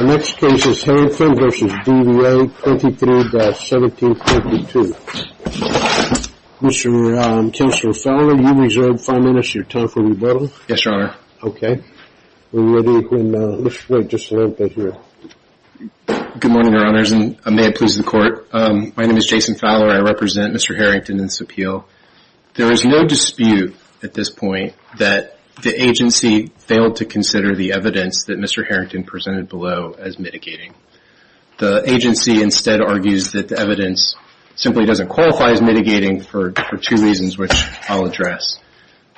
The next case is Harrington v. DVA 23-1752. Mr. Chancellor Fowler, you've reserved 5 minutes. Your time for rebuttal. Yes, Your Honor. Okay. We're ready when, let's wait just a little bit here. Good morning, Your Honors, and may it please the Court. My name is Jason Fowler. I represent Mr. Harrington in this appeal. There is no dispute at this point that the agency failed to consider the evidence that Mr. Harrington presented below as mitigating. The agency instead argues that the evidence simply doesn't qualify as mitigating for two reasons, which I'll address.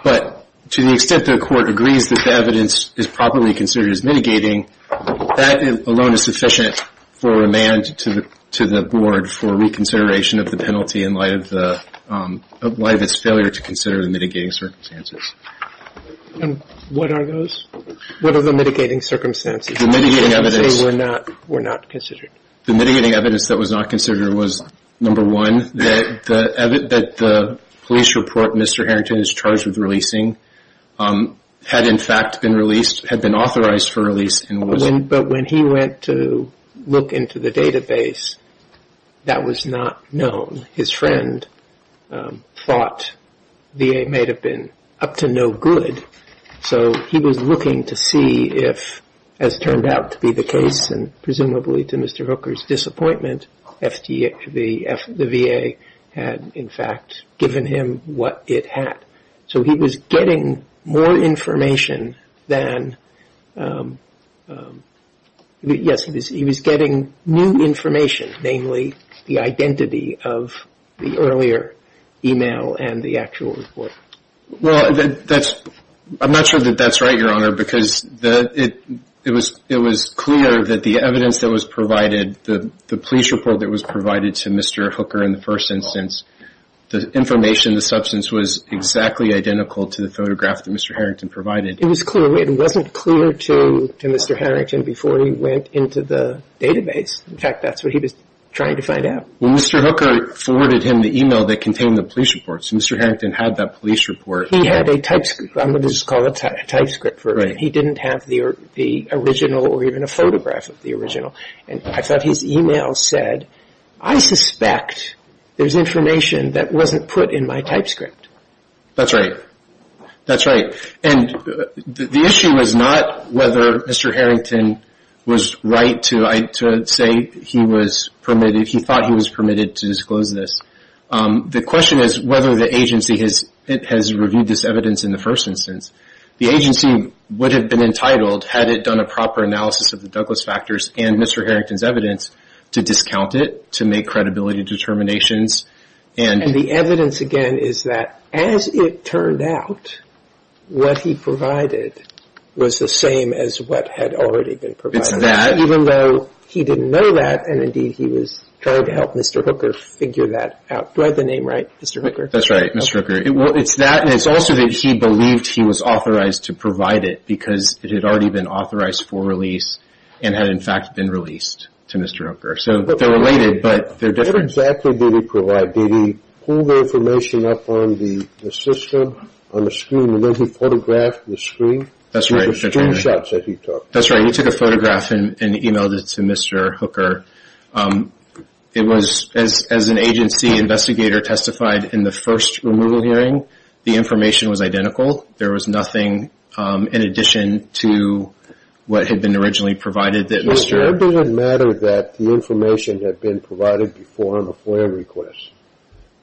But to the extent the Court agrees that the evidence is properly considered as mitigating, that alone is sufficient for remand to the Board for reconsideration of the penalty in light of its failure to consider the mitigating circumstances. What are those? What are the mitigating circumstances? The mitigating evidence that was not considered was number one, that the police report Mr. Harrington is charged with releasing had in fact been authorized for release. But when he went to look into the database, that was not known. His friend thought VA may have been up to no good, so he was looking to see if, as turned out to be the case, and presumably to Mr. Hooker's disappointment, the VA had in fact given him what it had. So he was getting more information than, yes, he was getting new information, namely the identity of the earlier email and the actual report. Well, I'm not sure that that's right, Your Honor, because it was clear that the evidence that was provided, the police report that was provided to Mr. Hooker in the first instance, the information, the substance was exactly identical to the photograph that Mr. Harrington provided. It was clear. It wasn't clear to Mr. Harrington before he went into the database. In fact, that's what he was trying to find out. Well, Mr. Hooker forwarded him the email that contained the police report, so Mr. Harrington had that police report. He had a typescript. I'm going to just call it a typescript. He didn't have the original or even a photograph of the original. And I thought his email said, I suspect there's information that wasn't put in my typescript. That's right. That's right. And the issue was not whether Mr. Harrington was right to say he was permitted, he thought he was permitted to disclose this. The question is whether the agency has reviewed this evidence in the first instance. The agency would have been entitled, had it done a proper analysis of the Douglas factors and Mr. Harrington's evidence, to discount it, to make credibility determinations. And the evidence, again, is that as it turned out, what he provided was the same as what had already been provided. It's that. Even though he didn't know that, and indeed he was trying to help Mr. Hooker figure that out. Do I have the name right, Mr. Hooker? That's right, Mr. Hooker. It's that, and it's also that he believed he was authorized to provide it because it had already been authorized for release and had, in fact, been released to Mr. Hooker. So they're related, but they're different. What exactly did he provide? Did he pull the information up on the system, on the screen, and then he photographed the screen? That's right, Mr. Traynor. With the screenshots that he took. That's right. He took a photograph and emailed it to Mr. Hooker. It was, as an agency investigator testified in the first removal hearing, the information was identical. There was nothing in addition to what had been originally provided that Mr. Traynor was authorized to provide. It doesn't matter that the information had been provided before on a FOIA request.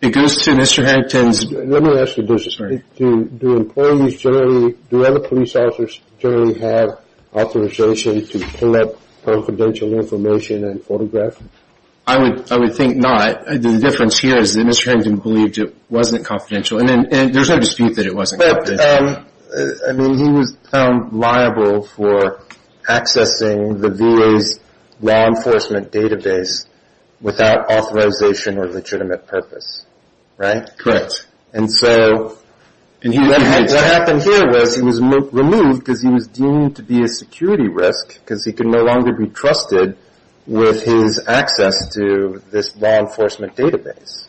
It goes to Mr. Harrington's... Let me ask you this. Do employees generally, do other police officers generally have authorization to pull up confidential information and photograph it? I would think not. The difference here is that Mr. Harrington believed it wasn't confidential, and there's no dispute that it wasn't confidential. Correct. I mean, he was found liable for accessing the VA's law enforcement database without authorization or legitimate purpose. Right? Correct. And so, what happened here was he was removed because he was deemed to be a security risk because he could no longer be trusted with his access to this law enforcement database.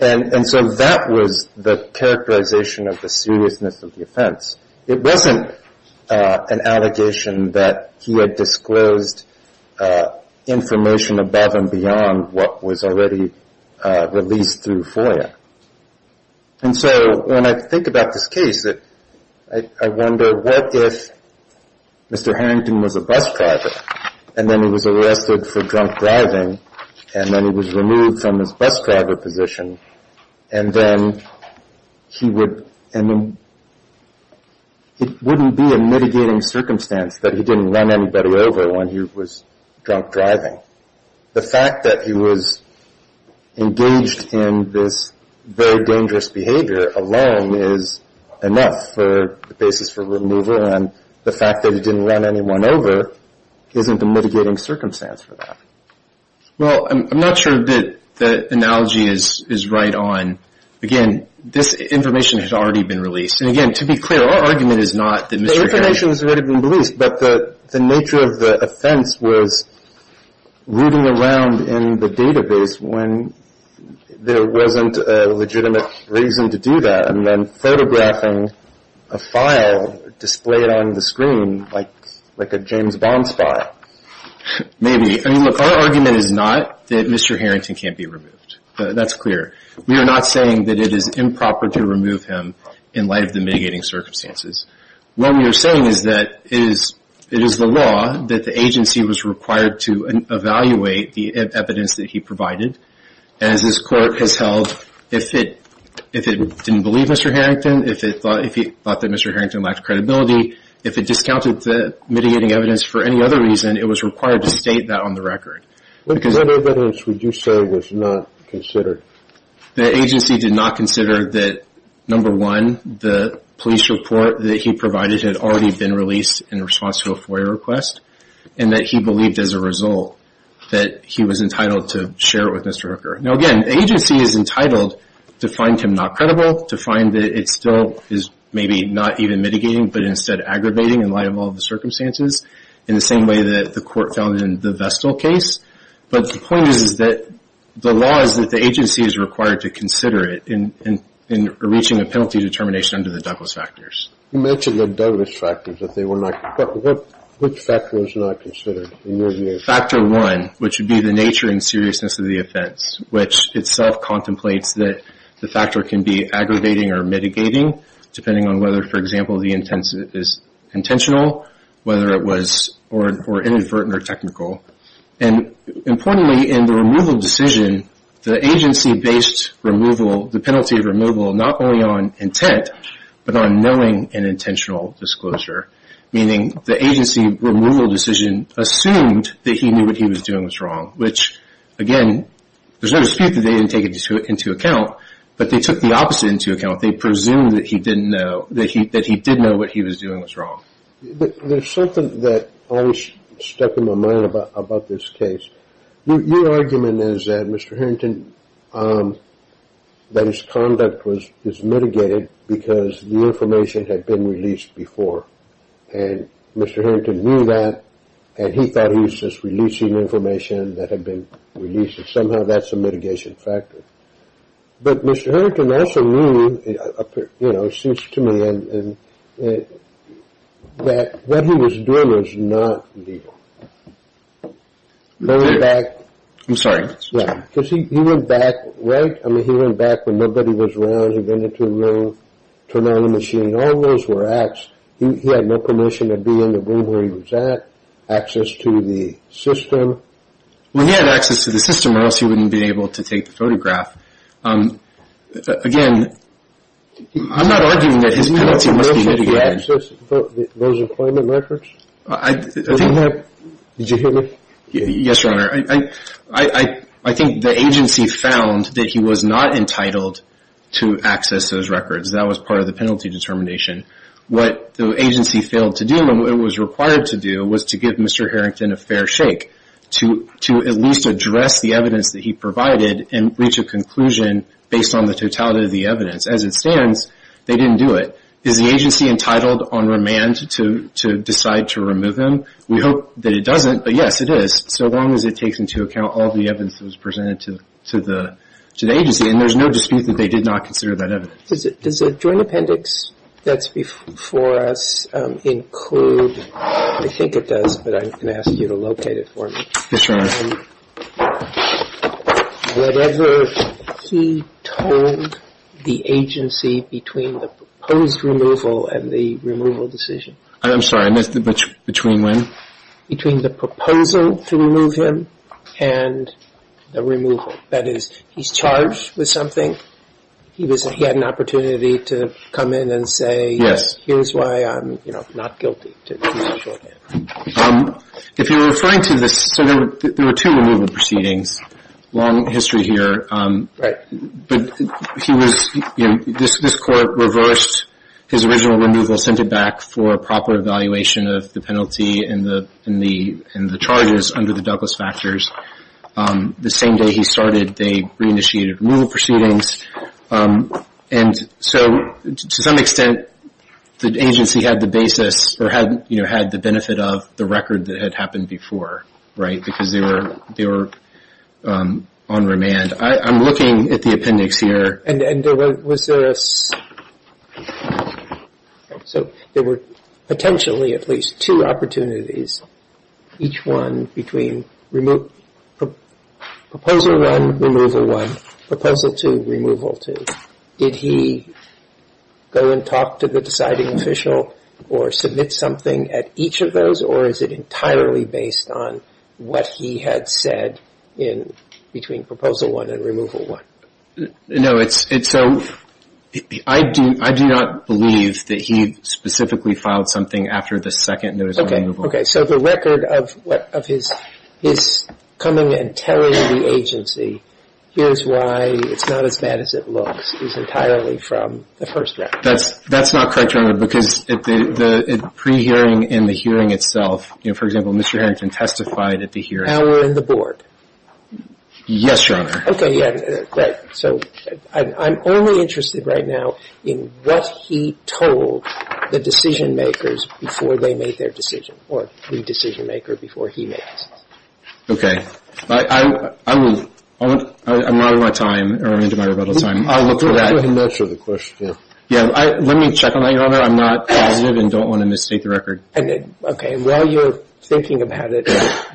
And so, that was the characterization of the seriousness of the offense. It wasn't an allegation that he had disclosed information above and beyond what was already released through FOIA. And so, when I think about this case, I wonder what if Mr. Harrington was a bus driver, and then he was arrested for drunk driving, and then he was removed from his bus driver position, and then he would, I mean, it wouldn't be a mitigating circumstance that he didn't run anybody over when he was drunk driving. The fact that he was engaged in this very dangerous behavior alone is enough for the basis for removal, and the fact that he didn't run anyone over isn't a mitigating circumstance for that. Well, I'm not sure that the analogy is right on. Again, this information has already been released. And again, to be clear, our argument is not that Mr. Harrington... The information has already been released, but the nature of the offense was rooting around in the database when there wasn't a legitimate reason to do that, and then photographing a file displayed on the screen like a James Bond spy. Maybe. I mean, look, our argument is not that Mr. Harrington can't be removed. That's clear. We are not saying that it is improper to remove him in light of the mitigating circumstances. What we are saying is that it is the law that the agency was required to evaluate the evidence that he provided. As this Court has held, if it didn't believe Mr. Harrington, if it thought that Mr. Harrington lacked credibility, if it discounted the mitigating evidence for any other reason, it was required to state that on the record. What evidence would you say was not considered? The agency did not consider that, number one, the police report that he provided had already been released in response to a FOIA request, and that he believed as a result that he was entitled to share it with Mr. Hooker. Now, again, the agency is entitled to find him not credible, to find that it still is maybe not even mitigating, but instead aggravating in light of all the circumstances, in the same way that the Court found it in the Vestal case. But the point is that the law is that the agency is required to consider it in reaching a penalty determination under the Douglas factors. You mentioned the Douglas factors, which factors were not considered? Factor one, which would be the nature and seriousness of the offense, which itself contemplates that the factor can be aggravating or mitigating, depending on whether, for example, the intent is intentional, whether it was inadvertent or technical. And importantly, in the removal decision, the agency-based removal, the penalty of removal, not only on intent, but on knowing an intentional disclosure. Meaning, the agency removal decision assumed that he knew what he was doing was wrong, which, again, there's no dispute that they didn't take it into account, but they took the process into account. They presumed that he did know what he was doing was wrong. There's something that always stuck in my mind about this case. Your argument is that Mr. Harrington, that his conduct was mitigated because the information had been released before, and Mr. Harrington knew that, and he thought he was just releasing information that had been released, and somehow that's a mitigation factor. But Mr. Harrington also knew, it seems to me, that what he was doing was not legal. I'm sorry. Because he went back, right? I mean, he went back when nobody was around. He went into a room, turned on the machine. All those were acts. He had no permission to be in the room where he was at, access to the system. Well, he had access to the system, or else he wouldn't have been able to take the photograph. Again, I'm not arguing that his penalty must be mitigated. Did he have access to those employment records? Did you hear me? Yes, Your Honor. I think the agency found that he was not entitled to access those records. That was part of the penalty determination. What the agency failed to do, and what it was required to do, was to give Mr. Harrington a fair shake, to at least address the evidence that he provided and reach a conclusion based on the totality of the evidence. As it stands, they didn't do it. Is the agency entitled on remand to decide to remove him? We hope that it doesn't, but yes, it is, so long as it takes into account all the evidence that was presented to the agency, and there's no dispute that they did not consider that evidence. Does the joint appendix that's before us include, I think it does, but I'm going to ask you to locate it for me. Yes, Your Honor. Whatever he told the agency between the proposed removal and the removal decision. I'm sorry, between when? Between the proposal to remove him and the removal. That is, he's charged with something? He had an opportunity to come in and say, yes, here's why I'm not guilty. If you're referring to this, so there were two removal proceedings, long history here. Right. But he was, this court reversed his original removal, sent it back for a proper evaluation of the penalty and the charges under the Douglas factors. The same day he started, they re-initiated removal proceedings, and so to some extent the agency had the basis or had the benefit of the record that had happened before, right, because they were on remand. I'm looking at the appendix here. And was there a, so there were potentially at least two opportunities, each one between proposal one, removal one, proposal two, removal two. Did he go and talk to the deciding official or submit something at each of those, or is it entirely based on what he had said between proposal one and removal one? No, it's, so I do not believe that he specifically filed something after the second notice of removal. Okay. So the record of his coming and telling the agency, here's why it's not as bad as it looks is entirely from the first draft. That's not correct, Your Honor, because the pre-hearing and the hearing itself, for example, Mr. Harrington testified at the hearing. And were in the board. Yes, Your Honor. Okay, yeah, great. So I'm only interested right now in what he told the decision-makers before they made their decision, or the decision-maker before he made his. Okay. I'm running out of my time. I'm running into my rebuttal time. I'll look for that. I'm not sure of the question. Yeah, let me check on that, Your Honor. I'm not positive and don't want to mistake the record. Okay, while you're thinking about it,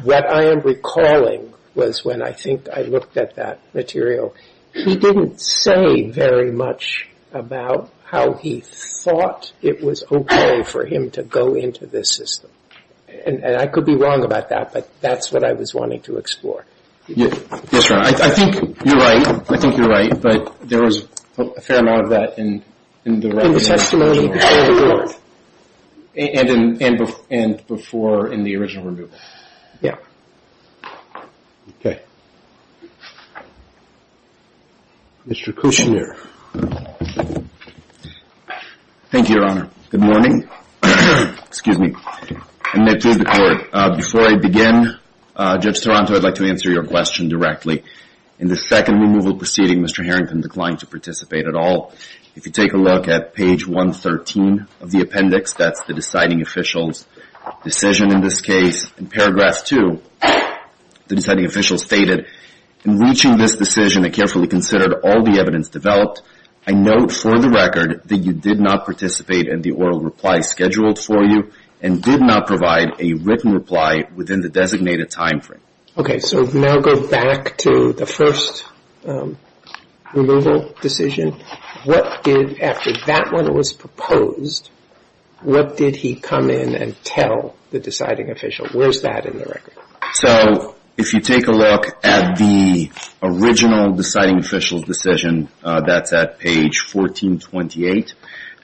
what I am recalling was when I think I looked at that material, he didn't say very much about how he thought it was okay for him to go into this system. And I could be wrong about that, but that's what I was wanting to explore. Yes, Your Honor. I think you're right. I think you're right, but there was a fair amount of that in the record. In the testimony before the board. And before in the original review. Okay. Mr. Kushner. Thank you, Your Honor. Good morning. Excuse me. Before I begin, Judge Toronto, I'd like to answer your question directly. In the second removal proceeding, Mr. Harrington declined to participate at all. If you take a look at page 113 of the appendix, that's the deciding official's decision in this case. In paragraph 2, the deciding official stated, in reaching this decision I carefully considered all the evidence developed. I note for the record that you did not participate in the oral reply scheduled for you and did not provide a written reply within the designated time frame. Okay. So now go back to the first removal decision. What did, after that one was proposed, what did he come in and tell the deciding official? Where's that in the record? So if you take a look at the original deciding official's decision, that's at page 1428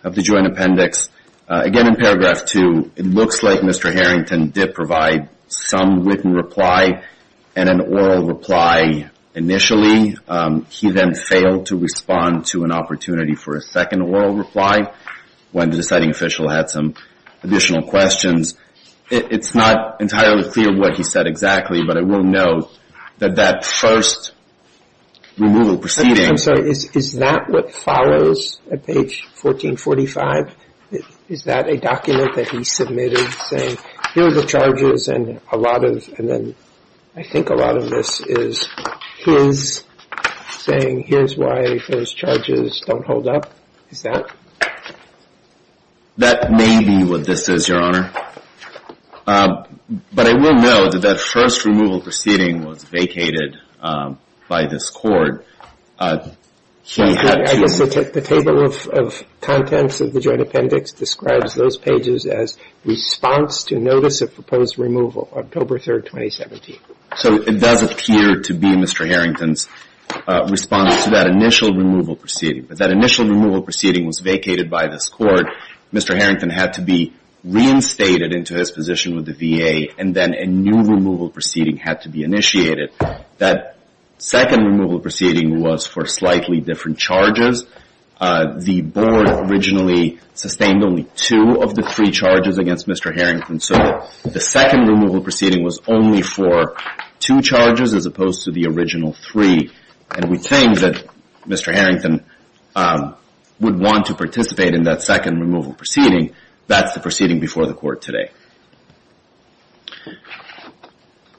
of the joint appendix. Again in paragraph 2, it looks like Mr. Harrington did provide some written reply and an oral reply initially. He then failed to respond to an opportunity for a second oral reply when the deciding official had some additional questions. It's not entirely clear what he said exactly, but I will note that that first removal proceeding I'm sorry, is that what follows at page 1445? Is that a document that he submitted saying here are the charges and a lot of, and then I think a lot of this is his saying here's why those charges don't hold up? Is that? That may be what this is, Your Honor. But I will note that that first removal proceeding was vacated by this court. I guess the table of contents of the joint appendix describes those pages as response to notice of proposed removal, October 3, 2017. So it does appear to be Mr. Harrington's response to that initial removal proceeding. But that initial removal proceeding was vacated by this court. Mr. Harrington had to be reinstated into his position with the VA, and then a new removal proceeding had to be initiated. That second removal proceeding was for slightly different charges. The board originally sustained only two of the three charges against Mr. Harrington, so the second removal proceeding was only for two charges as opposed to the original three. And we think that Mr. Harrington would want to participate in that second removal proceeding. That's the proceeding before the court today.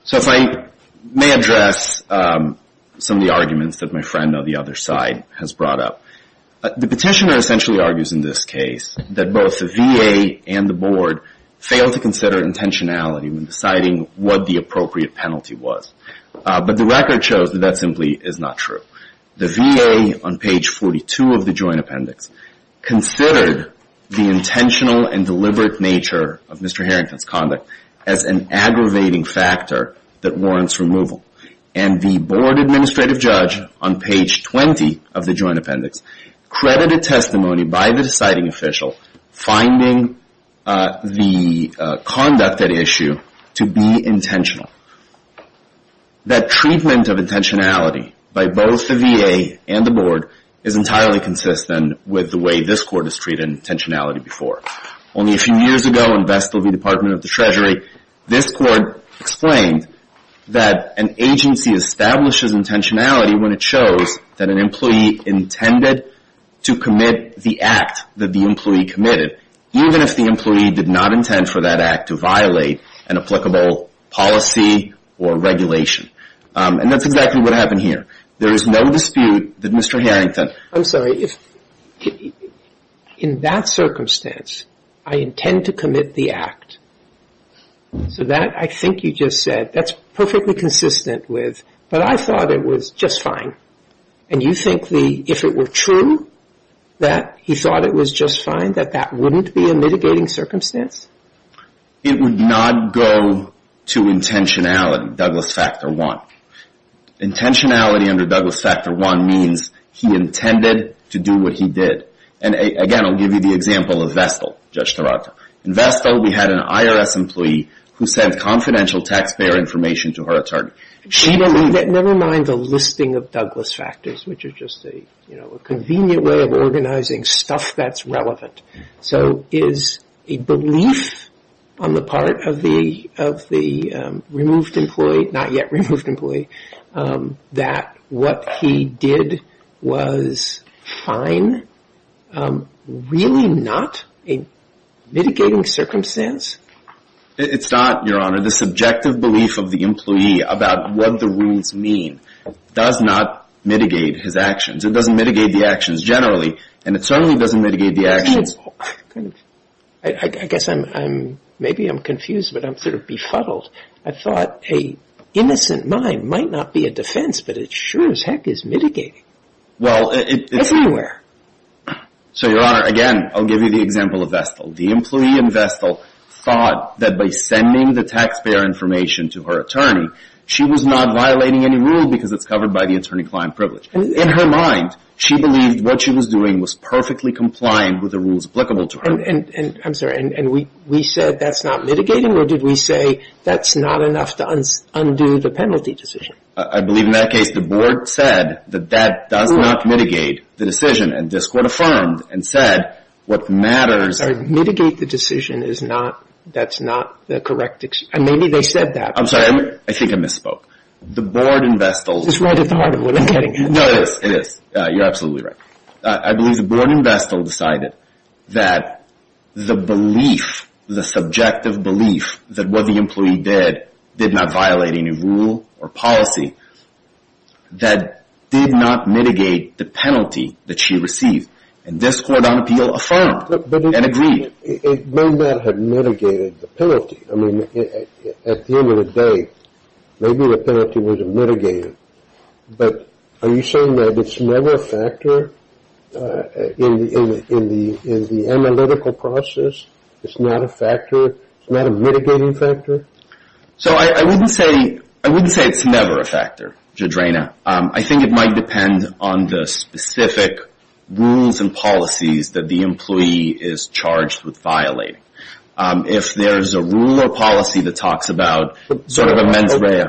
So if I may address some of the arguments that my friend on the other side has brought up. The petitioner essentially argues in this case that both the VA and the board failed to consider intentionality when deciding what the appropriate penalty was. But the record shows that that simply is not true. The VA on page 42 of the joint appendix considered the intentional and deliberate nature of Mr. Harrington's conduct as an aggravating factor that warrants removal. And the board administrative judge on page 20 of the joint appendix credited testimony by the deciding official finding the conduct at issue to be intentional. That treatment of intentionality by both the VA and the board is entirely consistent with the way this court has treated intentionality before. Only a few years ago in Vestal v. Department of the Treasury, this court explained that an agency establishes intentionality when it shows that an employee intended to commit the act that the employee committed, even if the employee did not intend for that act to violate an applicable policy or regulation. And that's exactly what happened here. There is no dispute that Mr. Harrington I'm sorry. In that circumstance, I intend to commit the act. So that, I think you just said, that's perfectly consistent with But I thought it was just fine. And you think if it were true that he thought it was just fine, that that wouldn't be a mitigating circumstance? It would not go to intentionality, Douglas Factor I. Intentionality under Douglas Factor I means he intended to do what he did. And again, I'll give you the example of Vestal, Judge Taranto. In Vestal, we had an IRS employee who sent confidential taxpayer information to her attorney. Never mind the listing of Douglas Factors, which is just a convenient way of organizing stuff that's relevant. So is a belief on the part of the removed employee, not yet removed employee, that what he did was fine really not a mitigating circumstance? It's not, Your Honor. The subjective belief of the employee about what the rules mean does not mitigate his actions. It doesn't mitigate the actions generally. And it certainly doesn't mitigate the actions. I guess maybe I'm confused, but I'm sort of befuddled. I thought an innocent mind might not be a defense, but it sure as heck is mitigating. Well, it's Everywhere. So, Your Honor, again, I'll give you the example of Vestal. The employee in Vestal thought that by sending the taxpayer information to her attorney, she was not violating any rule because it's covered by the attorney-client privilege. In her mind, she believed what she was doing was perfectly compliant with the rules applicable to her. I'm sorry. And we said that's not mitigating, or did we say that's not enough to undo the penalty decision? I believe in that case the board said that that does not mitigate the decision, and this court affirmed and said what matters Mitigate the decision is not, that's not the correct, and maybe they said that. I'm sorry. I think I misspoke. The board in Vestal It's right at the heart of what I'm getting at. It is. You're absolutely right. I believe the board in Vestal decided that the belief, the subjective belief, that what the employee did did not violate any rule or policy, that did not mitigate the penalty that she received. And this court on appeal affirmed and agreed. It may not have mitigated the penalty. I mean, at the end of the day, maybe the penalty was mitigated, but are you saying that it's never a factor in the analytical process? It's not a factor? It's not a mitigating factor? So I wouldn't say it's never a factor, Judge Rayner. I think it might depend on the specific rules and policies that the employee is charged with violating. If there's a rule or policy that talks about sort of a mens rea.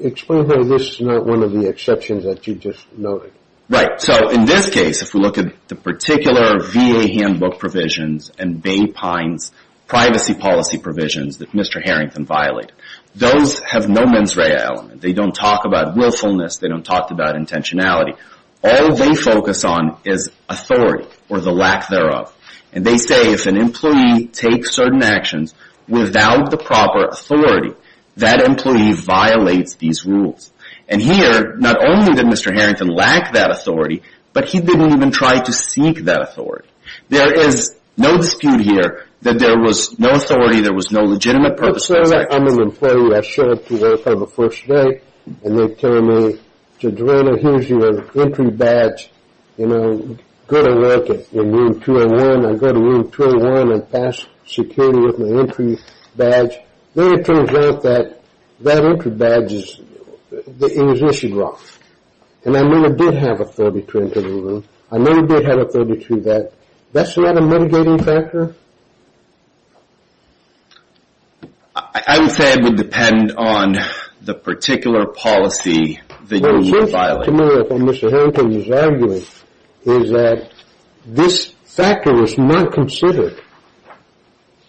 Explain though this is not one of the exceptions that you just noted. Right. So in this case, if we look at the particular VA handbook provisions and Bay Pines privacy policy provisions that Mr. Harrington violated, those have no mens rea element. They don't talk about willfulness. They don't talk about intentionality. All they focus on is authority or the lack thereof. And they say if an employee takes certain actions without the proper authority, that employee violates these rules. And here, not only did Mr. Harrington lack that authority, but he didn't even try to seek that authority. There is no dispute here that there was no authority, there was no legitimate purpose of those actions. I'm an employee. I show up to work on the first day, and they tell me, Judge Rayner, here's your entry badge. You know, go to work in room 201. I go to room 201 and pass security with my entry badge. Then it turns out that that entry badge is issued wrong. And I know I did have authority to enter the room. I know I did have authority to do that. That's not a mitigating factor? I would say it would depend on the particular policy that you're violating. Well, it seems to me what Mr. Harrington is arguing is that this factor was not considered.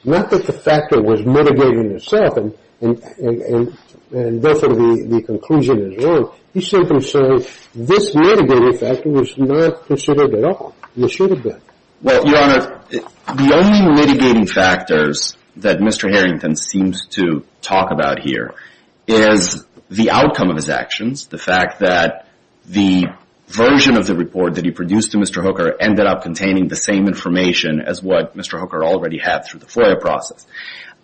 Not that the factor was mitigating itself, and therefore the conclusion is wrong. He's simply saying this mitigating factor was not considered at all. It should have been. Well, Your Honor, the only mitigating factors that Mr. Harrington seems to talk about here is the outcome of his actions, the fact that the version of the report that he produced to Mr. Hooker ended up containing the same information as what Mr. Hooker already had through the FOIA process,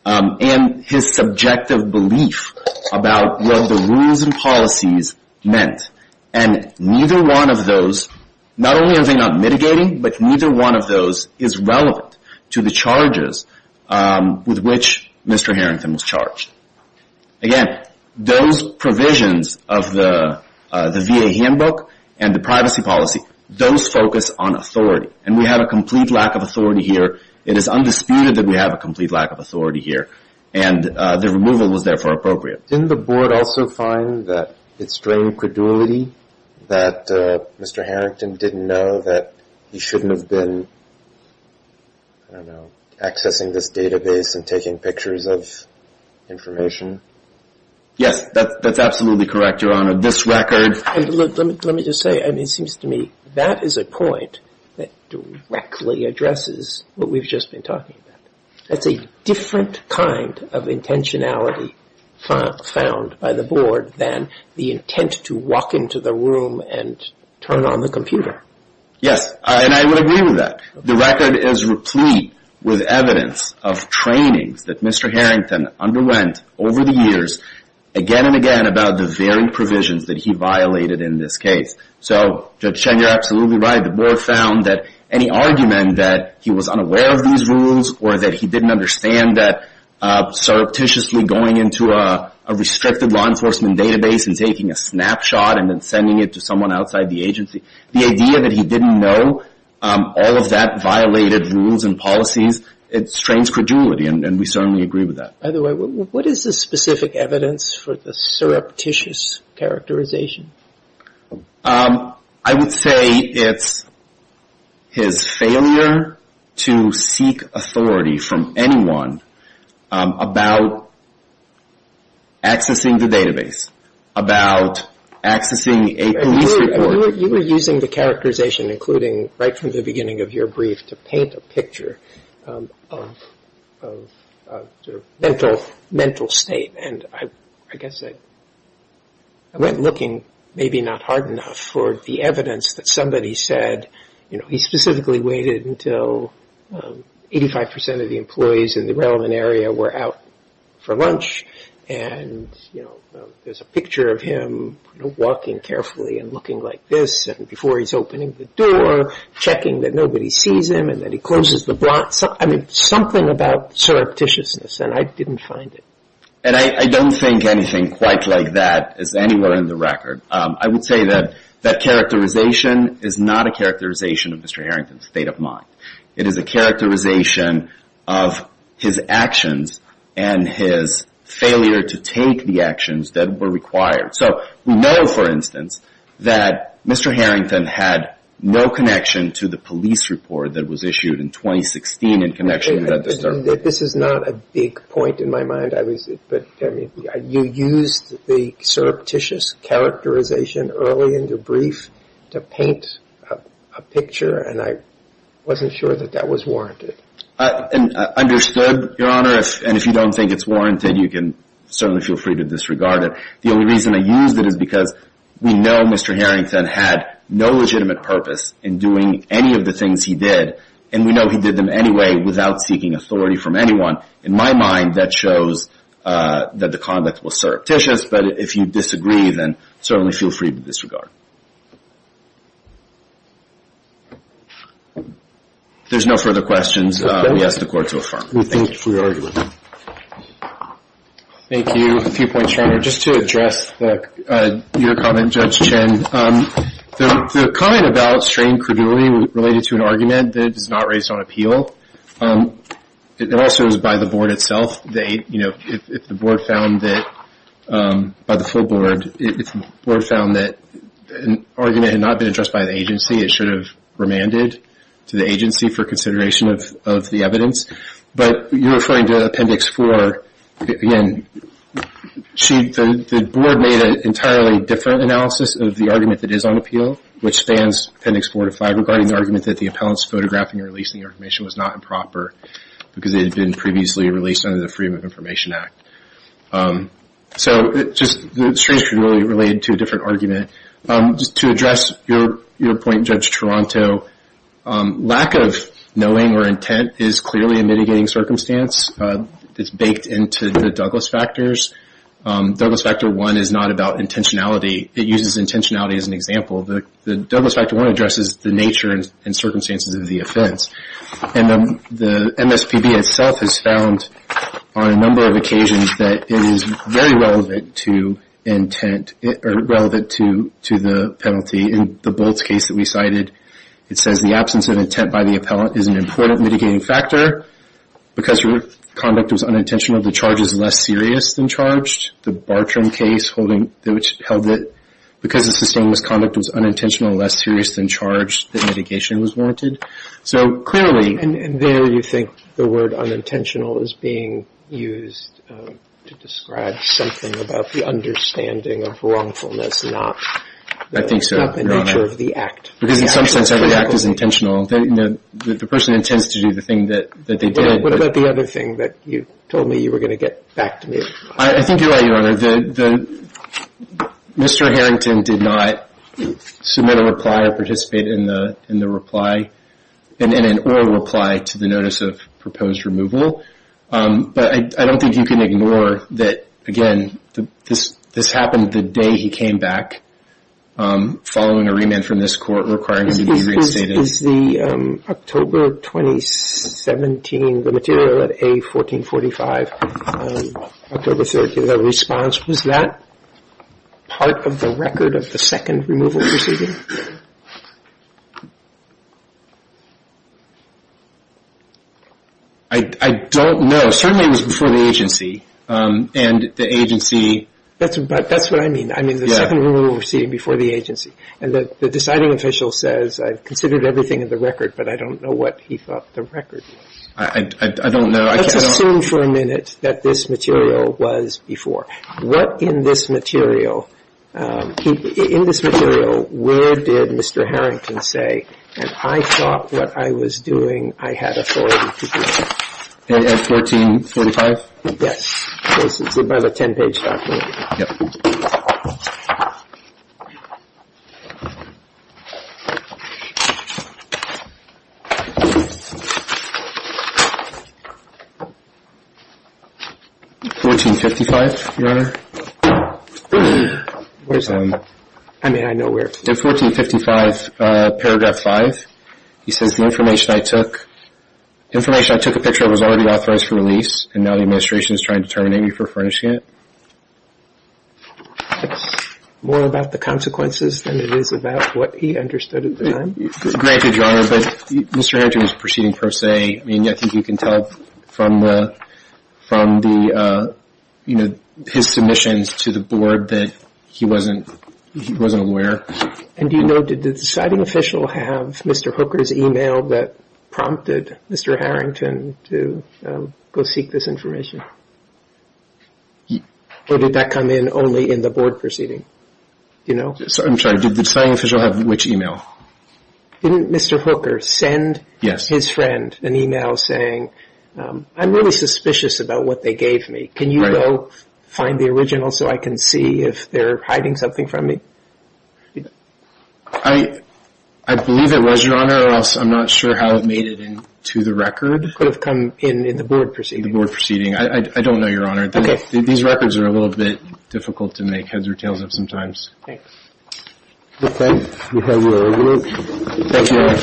and his subjective belief about what the rules and policies meant. And neither one of those, not only are they not mitigating, but neither one of those is relevant to the charges with which Mr. Harrington was charged. Again, those provisions of the VA handbook and the privacy policy, those focus on authority. And we have a complete lack of authority here. It is undisputed that we have a complete lack of authority here. And the removal was therefore appropriate. Didn't the board also find that it strained credulity that Mr. Harrington didn't know that he shouldn't have been, I don't know, accessing this database and taking pictures of information? Yes, that's absolutely correct, Your Honor. This record — Let me just say, I mean, it seems to me that is a point that directly addresses what we've just been talking about. That's a different kind of intentionality found by the board than the intent to walk into the room and turn on the computer. Yes, and I would agree with that. The record is replete with evidence of trainings that Mr. Harrington underwent over the years, again and again, about the very provisions that he violated in this case. So, Judge Cheng, you're absolutely right. The board found that any argument that he was unaware of these rules or that he didn't understand that surreptitiously going into a restricted law enforcement database and taking a snapshot and then sending it to someone outside the agency, the idea that he didn't know all of that violated rules and policies, it strains credulity. And we certainly agree with that. By the way, what is the specific evidence for the surreptitious characterization? I would say it's his failure to seek authority from anyone about accessing the database, about accessing a police report. You were using the characterization, including right from the beginning of your brief, to paint a picture of sort of mental state. And I guess I went looking, maybe not hard enough, for the evidence that somebody said, you know, he specifically waited until 85% of the employees in the relevant area were out for lunch. And, you know, there's a picture of him walking carefully and looking like this and before he's opening the door, checking that nobody sees him and that he closes the blinds. I mean, something about surreptitiousness, and I didn't find it. And I don't think anything quite like that is anywhere in the record. I would say that that characterization is not a characterization of Mr. Harrington's state of mind. It is a characterization of his actions and his failure to take the actions that were required. So we know, for instance, that Mr. Harrington had no connection to the police report that was issued in 2016 in connection with that disturbance. This is not a big point in my mind. You used the surreptitious characterization early in your brief to paint a picture, and I wasn't sure that that was warranted. I understood, Your Honor, and if you don't think it's warranted, you can certainly feel free to disregard it. The only reason I used it is because we know Mr. Harrington had no legitimate purpose in doing any of the things he did, and we know he did them anyway without seeking authority from anyone. In my mind, that shows that the conduct was surreptitious. But if you disagree, then certainly feel free to disregard. If there's no further questions, we ask the Court to affirm. Thank you. Thank you. A few points, Your Honor. Just to address your comment, Judge Chen. The comment about strain credulity related to an argument that is not raised on appeal, it also is by the Board itself. If the Board found that an argument had not been addressed by the agency, it should have remanded to the agency for consideration of the evidence. But you're referring to Appendix 4. Again, the Board made an entirely different analysis of the argument that is on appeal, which spans Appendix 4 to 5, regarding the argument that the appellant's photographing or releasing the information was not improper because it had been previously released under the Freedom of Information Act. So the strain credulity related to a different argument. Just to address your point, Judge Toronto, lack of knowing or intent is clearly a mitigating circumstance. It's baked into the Douglas Factors. Douglas Factor 1 is not about intentionality. It uses intentionality as an example. The Douglas Factor 1 addresses the nature and circumstances of the offense. The MSPB itself has found on a number of occasions that it is very relevant to the penalty. In the Bolts case that we cited, it says the absence of intent by the appellant is an important mitigating factor. Because your conduct was unintentional, the charge is less serious than charged. The Bartram case held that because the sustained misconduct was unintentional, less serious than charged, that mitigation was warranted. And there you think the word unintentional is being used to describe something about the understanding of wrongfulness, not the nature of the act. Because in some sense every act is intentional. The person intends to do the thing that they did. What about the other thing that you told me you were going to get back to me? I think you're right, Your Honor. Your Honor, Mr. Harrington did not submit a reply or participate in an oral reply to the notice of proposed removal. But I don't think you can ignore that, again, this happened the day he came back following a remand from this court requiring him to be reinstated. Is the October 2017, the material at A1445, October 30, the response, was that part of the record of the second removal proceeding? I don't know. Certainly it was before the agency. And the agency... That's what I mean. I mean the second removal proceeding before the agency. And the deciding official says, I've considered everything in the record, but I don't know what he thought the record was. I don't know. Let's assume for a minute that this material was before. What in this material... In this material, where did Mr. Harrington say, and I thought what I was doing I had authority to do? At A1445? Yes. It's about a 10-page document. Yep. Okay. A1455, Your Honor. Where's that? I mean, I know where. In A1455, paragraph 5, he says, the information I took, information I took a picture of was already authorized for release, and now the administration is trying to terminate me for furnishing it. It's more about the consequences than it is about what he understood at the time? Thank you, Your Honor. But Mr. Harrington was proceeding per se. I mean, I think you can tell from the, from the, you know, his submissions to the board that he wasn't, he wasn't aware. And do you know, did the deciding official have Mr. Hooker's email that prompted Mr. Harrington to go seek this information? Or did that come in only in the board proceeding? Do you know? I'm sorry. Did the deciding official have which email? Didn't Mr. Hooker send his friend an email saying, I'm really suspicious about what they gave me. Can you go find the original so I can see if they're hiding something from me? I believe it was, Your Honor, or else I'm not sure how it made it into the record. Could have come in in the board proceeding. I don't know, Your Honor. These records are a little bit difficult to make heads or tails of sometimes. Thanks. Okay. We have a vote. Thank you, Your Honor.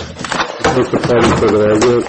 Let's have a vote.